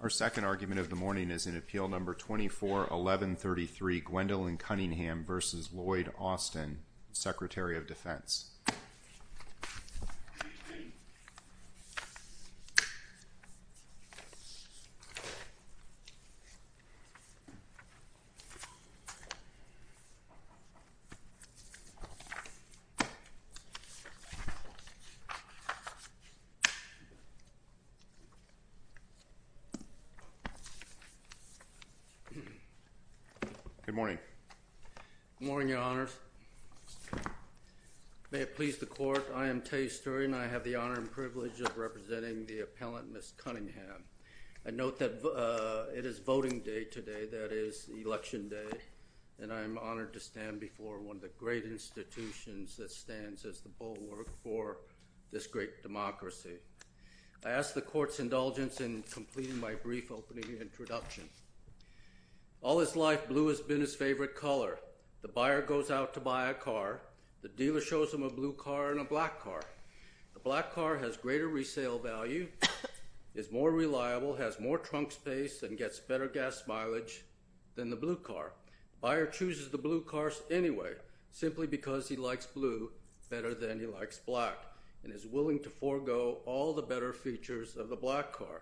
Our second argument of the morning is in Appeal No. 24-1133, Gwendolyn Cunningham v. Lloyd Austin, Secretary of Defense. Good morning, Your Honors. May it please the Court, I am Tay Sturgeon. I have the honor and privilege of representing the appellant, Ms. Cunningham. I note that it is voting day today, that is, Election Day. And I am honored to stand before one of the great institutions that stands as the bulwark for this great democracy. I ask the Court's indulgence in completing my brief opening introduction. All his life, blue has been his favorite color. The buyer goes out to buy a car. The dealer shows him a blue car and a black car. The black car has greater resale value, is more reliable, has more trunk space, and gets better gas mileage than the blue car. The buyer chooses the blue car anyway, simply because he likes blue better than he likes black, and is willing to forego all the better features of the black car.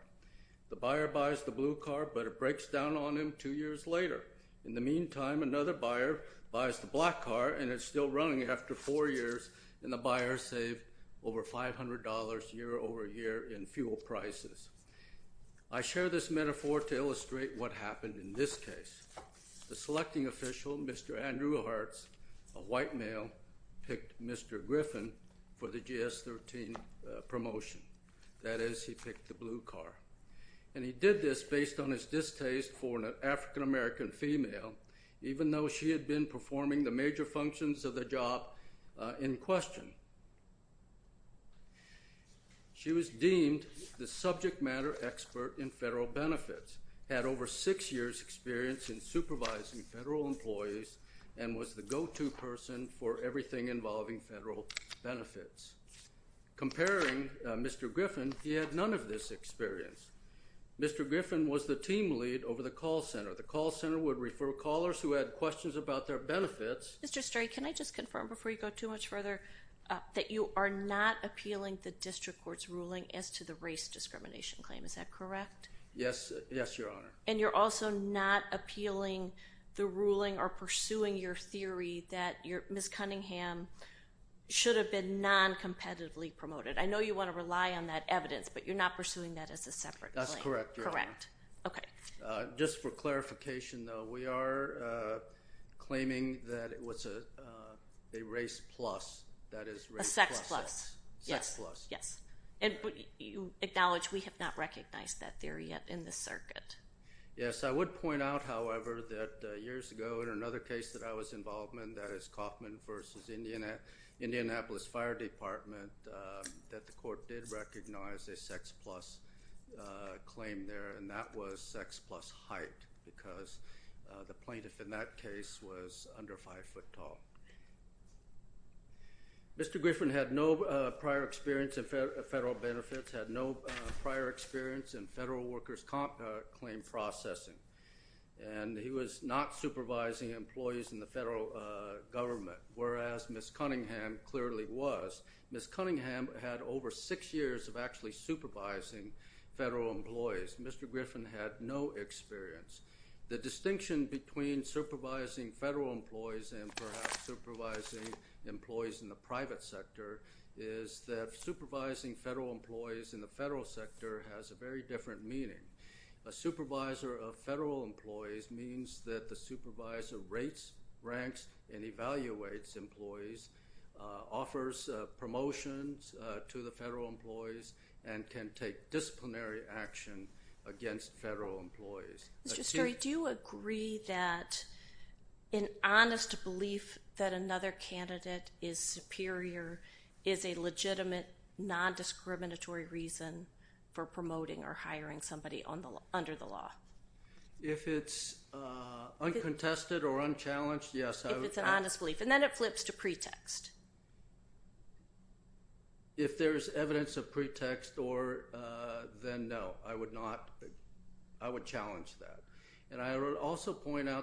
The buyer buys the blue car, but it breaks down on him two years later. In the meantime, another buyer buys the black car, and it's still running after four years. And the buyer saved over $500 year over year in fuel prices. I share this metaphor to illustrate what happened in this case. The selecting official, Mr. Andrew Hartz, a white male, picked Mr. Griffin for the GS-13 promotion. That is, he picked the blue car. And he did this based on his distaste for an African-American female, even though she had been performing the major functions of the job in question. She was deemed the subject matter expert in federal benefits, had over six years' experience in supervising federal employees, and was the go-to person for everything involving federal benefits. Comparing Mr. Griffin, he had none of this experience. Mr. Griffin was the team lead over the call center. The call center would refer callers who had questions about their benefits. Mr. Stray, can I just confirm before you go too much further that you are not appealing the district court's ruling as to the race discrimination claim? Is that correct? Yes. Yes, Your Honor. And you're also not appealing the ruling or pursuing your theory that Ms. Cunningham should have been noncompetitively promoted. I know you want to rely on that evidence, but you're not pursuing that as a separate claim. That's correct, Your Honor. Correct. Okay. Just for clarification, though, we are claiming that it was a race plus. That is race plus sex. A sex plus. Sex plus. Yes. And acknowledge we have not recognized that theory yet in the circuit. Yes, I would point out, however, that years ago in another case that I was involved in, that is Kaufman v. Indianapolis Fire Department, that the court did recognize a sex plus claim there, and that was sex plus height because the plaintiff in that case was under 5 foot tall. Mr. Griffin had no prior experience in federal benefits, had no prior experience in federal workers' comp claim processing, and he was not supervising employees in the federal government, whereas Ms. Cunningham clearly was. Ms. Cunningham had over six years of actually supervising federal employees. Mr. Griffin had no experience. The distinction between supervising federal employees and perhaps supervising employees in the private sector is that supervising federal employees in the federal sector has a very different meaning. A supervisor of federal employees means that the supervisor rates, ranks, and evaluates employees, offers promotions to the federal employees, and can take disciplinary action against federal employees. Mr. Story, do you agree that an honest belief that another candidate is superior is a legitimate, non-discriminatory reason for promoting or hiring somebody under the law? If it's uncontested or unchallenged, yes. If it's an honest belief, and then it flips to pretext. If there's evidence of pretext, then no. I would challenge that.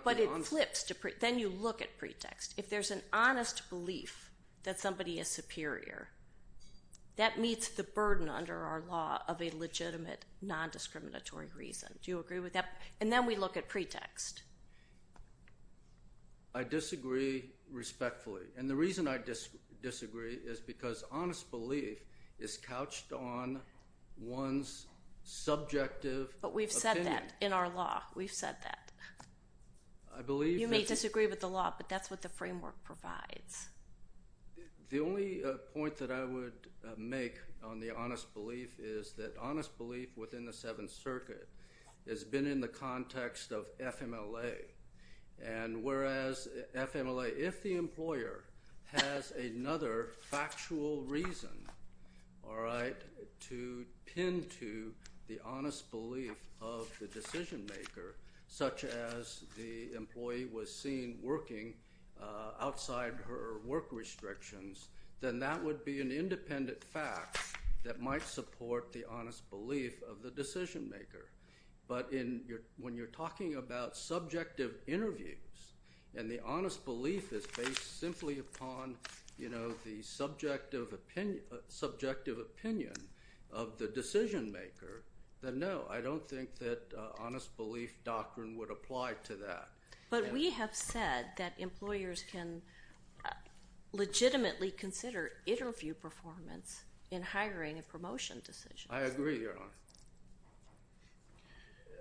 But it flips to pretext. Then you look at pretext. If there's an honest belief that somebody is superior, that meets the burden under our law of a legitimate, non-discriminatory reason. Do you agree with that? And then we look at pretext. I disagree respectfully. And the reason I disagree is because honest belief is couched on one's subjective opinion. But we've said that in our law. We've said that. You may disagree with the law, but that's what the framework provides. The only point that I would make on the honest belief is that honest belief within the Seventh Circuit has been in the context of FMLA. And whereas FMLA, if the employer has another factual reason to pin to the honest belief of the decision maker, such as the employee was seen working outside her work restrictions, then that would be an independent fact that might support the honest belief of the decision maker. But when you're talking about subjective interviews and the honest belief is based simply upon the subjective opinion of the decision maker, then no. I don't think that honest belief doctrine would apply to that. But we have said that employers can legitimately consider interview performance in hiring and promotion decisions. I agree, Your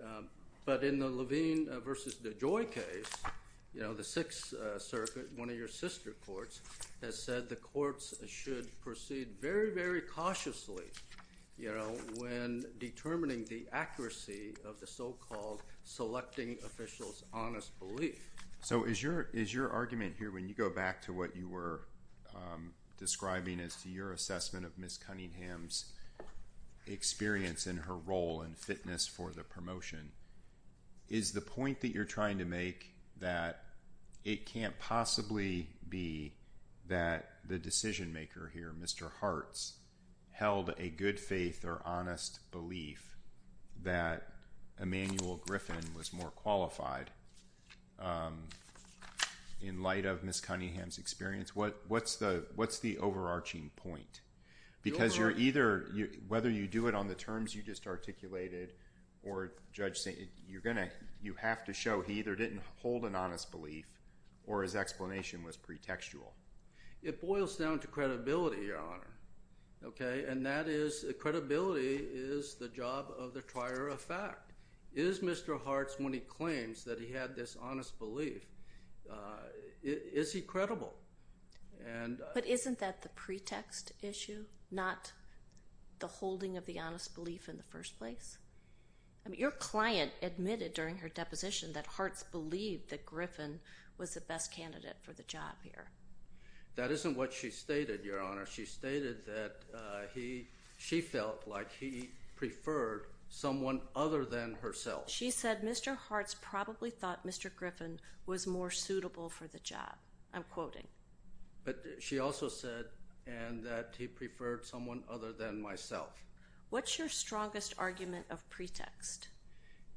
Honor. But in the Levine v. DeJoy case, the Sixth Circuit, one of your sister courts, has said the courts should proceed very, very cautiously when determining the accuracy of the so-called selecting official's honest belief. So is your argument here, when you go back to what you were describing as to your assessment of Ms. Cunningham's experience in her role in fitness for the promotion, is the point that you're trying to make that it can't possibly be that the decision maker here, Mr. Hartz, held a good faith or honest belief that Emanuel Griffin was more qualified in light of Ms. Cunningham's experience? What's the overarching point? Because you're either—whether you do it on the terms you just articulated or, Judge, you have to show he either didn't hold an honest belief or his explanation was pretextual. It boils down to credibility, Your Honor. Okay? And that is—credibility is the job of the trier of fact. Is Mr. Hartz, when he claims that he had this honest belief, is he credible? But isn't that the pretext issue, not the holding of the honest belief in the first place? Your client admitted during her deposition that Hartz believed that Griffin was the best candidate for the job here. That isn't what she stated, Your Honor. She stated that he—she felt like he preferred someone other than herself. She said Mr. Hartz probably thought Mr. Griffin was more suitable for the job. I'm quoting. But she also said that he preferred someone other than myself. What's your strongest argument of pretext?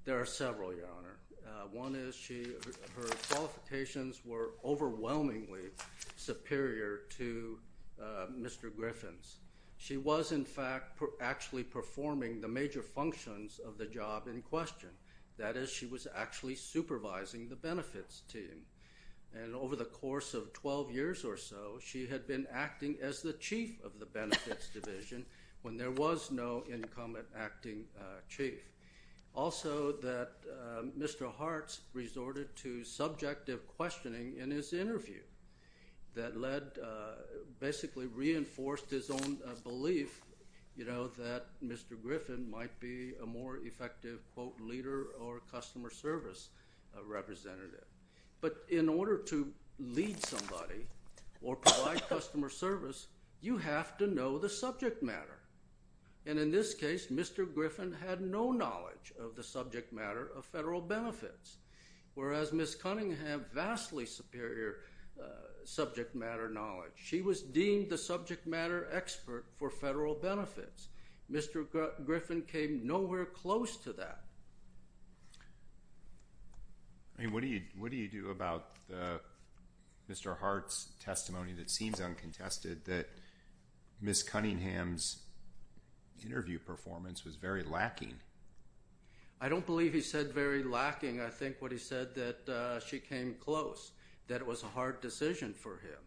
There are several, Your Honor. One is she—her qualifications were overwhelmingly superior to Mr. Griffin's. She was, in fact, actually performing the major functions of the job in question. That is, she was actually supervising the benefits team. And over the course of 12 years or so, she had been acting as the chief of the benefits division when there was no incumbent acting chief. Also, that Mr. Hartz resorted to subjective questioning in his interview that led—basically reinforced his own belief, you know, that Mr. Griffin might be a more effective, quote, leader or customer service representative. But in order to lead somebody or provide customer service, you have to know the subject matter. And in this case, Mr. Griffin had no knowledge of the subject matter of federal benefits, whereas Ms. Cunningham, vastly superior subject matter knowledge. She was deemed the subject matter expert for federal benefits. Mr. Griffin came nowhere close to that. I mean, what do you—what do you do about Mr. Hartz's testimony that seems uncontested, that Ms. Cunningham's interview performance was very lacking? I don't believe he said very lacking. I think what he said that she came close, that it was a hard decision for him,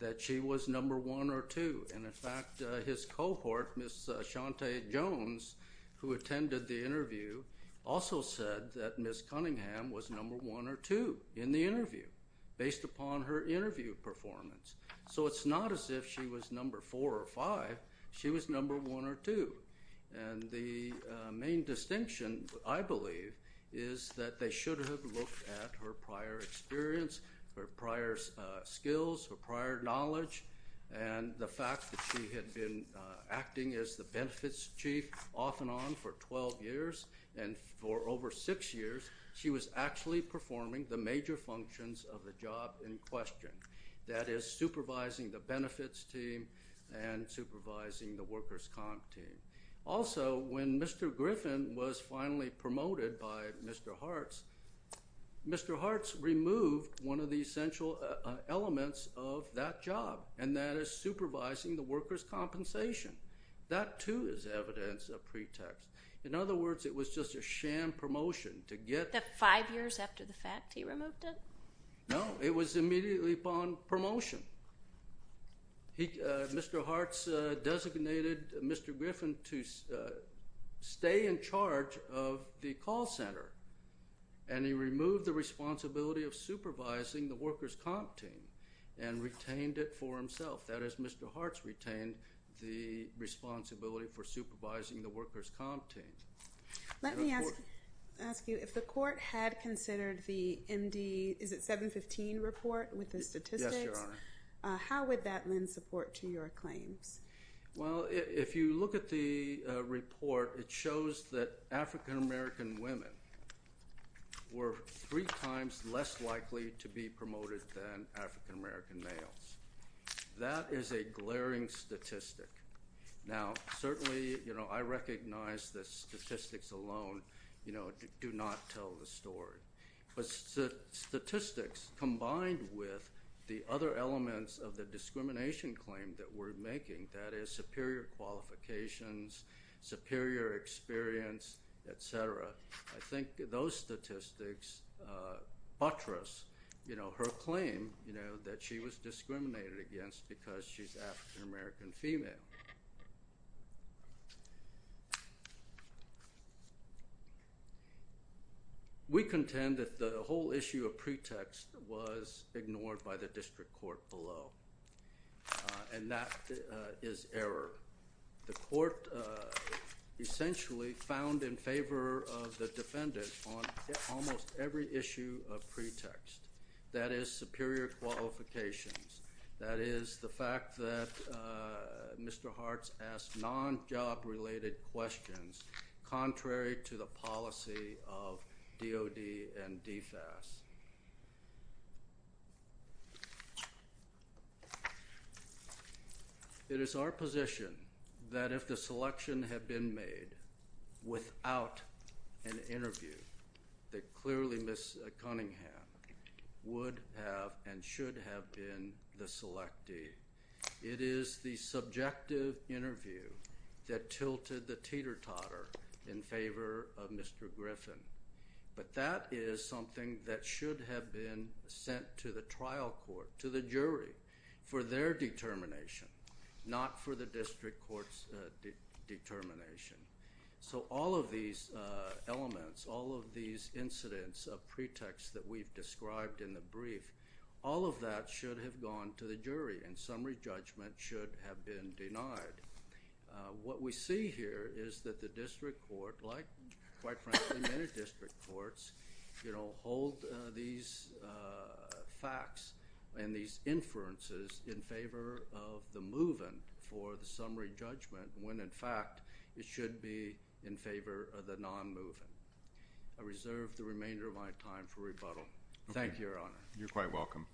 that she was number one or two. And, in fact, his cohort, Ms. Shante Jones, who attended the interview, also said that Ms. Cunningham was number one or two in the interview, based upon her interview performance. So it's not as if she was number four or five. She was number one or two. And the main distinction, I believe, is that they should have looked at her prior experience, her prior skills, her prior knowledge, and the fact that she had been acting as the benefits chief off and on for 12 years. And for over six years, she was actually performing the major functions of the job in question, that is, supervising the benefits team and supervising the workers' comp team. Also, when Mr. Griffin was finally promoted by Mr. Hartz, Mr. Hartz removed one of the essential elements of that job, and that is supervising the workers' compensation. That, too, is evidence of pretext. In other words, it was just a sham promotion to get the – The five years after the fact he removed it? No. It was immediately upon promotion. Mr. Hartz designated Mr. Griffin to stay in charge of the call center, and he removed the responsibility of supervising the workers' comp team and retained it for himself. That is, Mr. Hartz retained the responsibility for supervising the workers' comp team. Let me ask you, if the court had considered the MD – is it 715 report with the statistics? How would that lend support to your claims? Well, if you look at the report, it shows that African-American women were three times less likely to be promoted than African-American males. That is a glaring statistic. Now, certainly, you know, I recognize that statistics alone, you know, do not tell the story. But statistics combined with the other elements of the discrimination claim that we're making, that is superior qualifications, superior experience, et cetera, I think those statistics buttress, you know, her claim, you know, that she was discriminated against because she's African-American female. We contend that the whole issue of pretext was ignored by the district court below, and that is error. The court essentially found in favor of the defendant on almost every issue of pretext. That is superior qualifications. That is the fact that Mr. Hartz asked non-job-related questions contrary to the policy of DOD and DFAS. It is our position that if the selection had been made without an interview, that clearly Ms. Cunningham would have and should have been the selectee. It is the subjective interview that tilted the teeter-totter in favor of Mr. Griffin. But that is something that should have been sent to the trial court, to the jury, for their determination, not for the district court's determination. So all of these elements, all of these incidents of pretext that we've described in the brief, all of that should have gone to the jury, and summary judgment should have been denied. What we see here is that the district court, like quite frankly many district courts, hold these facts and these inferences in favor of the move-in for the summary judgment, when in fact it should be in favor of the non-move-in. I reserve the remainder of my time for rebuttal. Thank you, Your Honor. You're quite welcome.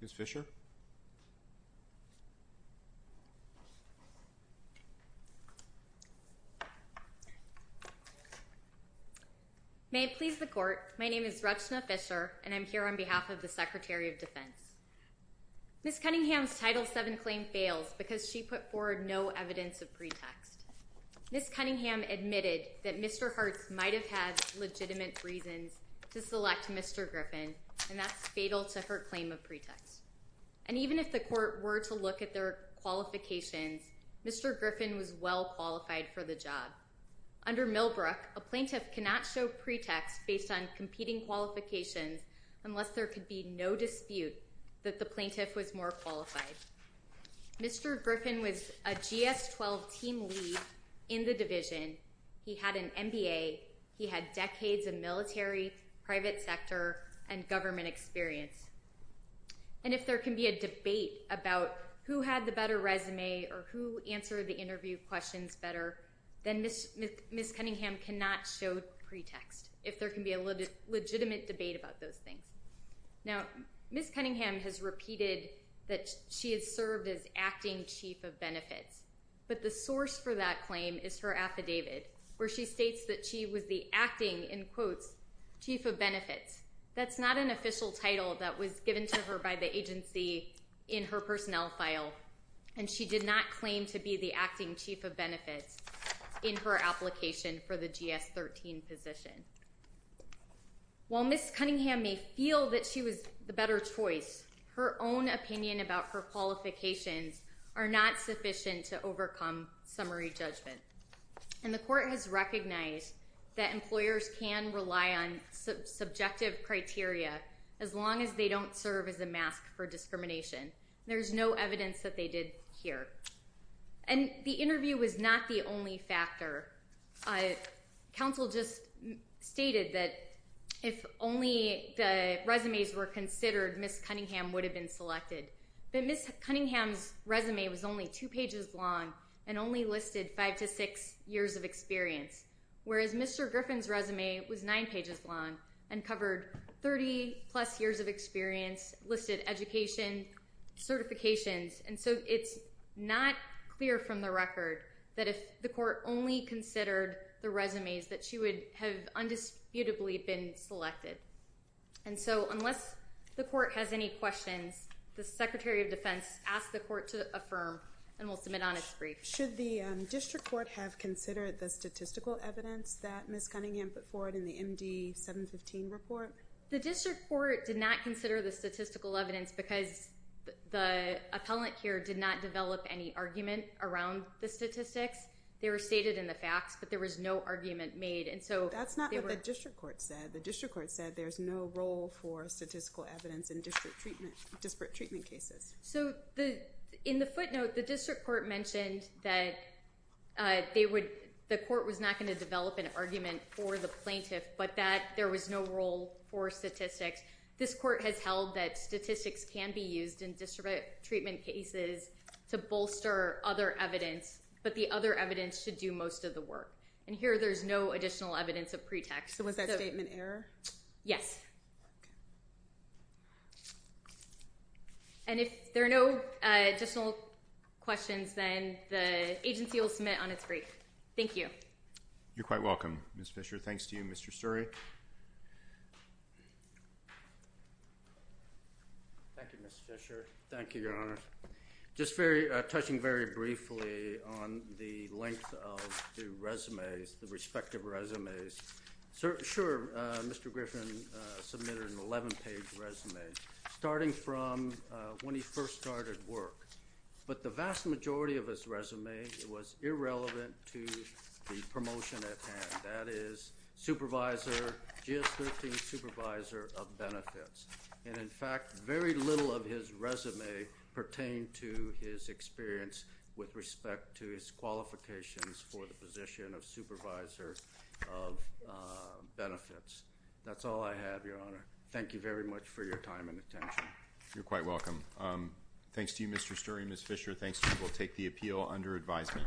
Ms. Fisher? May it please the Court, my name is Rachna Fisher, and I'm here on behalf of the Secretary of Defense. Ms. Cunningham's Title VII claim fails because she put forward no evidence of pretext. Ms. Cunningham admitted that Mr. Hartz might have had legitimate reasons to select Mr. Griffin, and that's fatal to her claim of pretext. And even if the court were to look at their qualifications, Mr. Griffin was well qualified for the job. Under Millbrook, a plaintiff cannot show pretext based on competing qualifications unless there could be no dispute that the plaintiff was more qualified. Mr. Griffin was a GS-12 team lead in the division. He had an MBA. He had decades of military, private sector, and government experience. And if there can be a debate about who had the better resume or who answered the interview questions better, then Ms. Cunningham cannot show pretext, if there can be a legitimate debate about those things. Now, Ms. Cunningham has repeated that she has served as Acting Chief of Benefits, but the source for that claim is her affidavit, where she states that she was the acting, in quotes, Chief of Benefits. That's not an official title that was given to her by the agency in her personnel file, and she did not claim to be the Acting Chief of Benefits in her application for the GS-13 position. While Ms. Cunningham may feel that she was the better choice, her own opinion about her qualifications are not sufficient to overcome summary judgment. And the court has recognized that employers can rely on subjective criteria as long as they don't serve as a mask for discrimination. There's no evidence that they did here. And the interview was not the only factor. Council just stated that if only the resumes were considered, Ms. Cunningham would have been selected. But Ms. Cunningham's resume was only two pages long and only listed five to six years of experience, whereas Mr. Griffin's resume was nine pages long and covered 30-plus years of experience, listed education, certifications. And so it's not clear from the record that if the court only considered the resumes, that she would have undisputably been selected. And so unless the court has any questions, the Secretary of Defense asked the court to affirm, and we'll submit on its brief. Should the district court have considered the statistical evidence that Ms. Cunningham put forward in the MD-715 report? The district court did not consider the statistical evidence because the appellant here did not develop any argument around the statistics. They were stated in the facts, but there was no argument made. That's not what the district court said. The district court said there's no role for statistical evidence in disparate treatment cases. So in the footnote, the district court mentioned that the court was not going to develop an argument for the plaintiff, but that there was no role for statistics. This court has held that statistics can be used in disparate treatment cases to bolster other evidence, but the other evidence should do most of the work. And here there's no additional evidence of pretext. So was that statement error? Yes. And if there are no additional questions, then the agency will submit on its brief. Thank you. You're quite welcome, Ms. Fisher. Thanks to you, Mr. Suri. Thank you, Ms. Fisher. Thank you, Your Honor. Just touching very briefly on the length of the resumes, the respective resumes. Sure, Mr. Griffin submitted an 11-page resume, starting from when he first started work. But the vast majority of his resume was irrelevant to the promotion at hand. That is supervisor, GS-13 supervisor of benefits. And in fact, very little of his resume pertained to his experience with respect to his qualifications for the position of supervisor of benefits. That's all I have, Your Honor. Thank you very much for your time and attention. You're quite welcome. Thanks to you, Mr. Suri and Ms. Fisher. Thanks. And we'll take the appeal under advisement.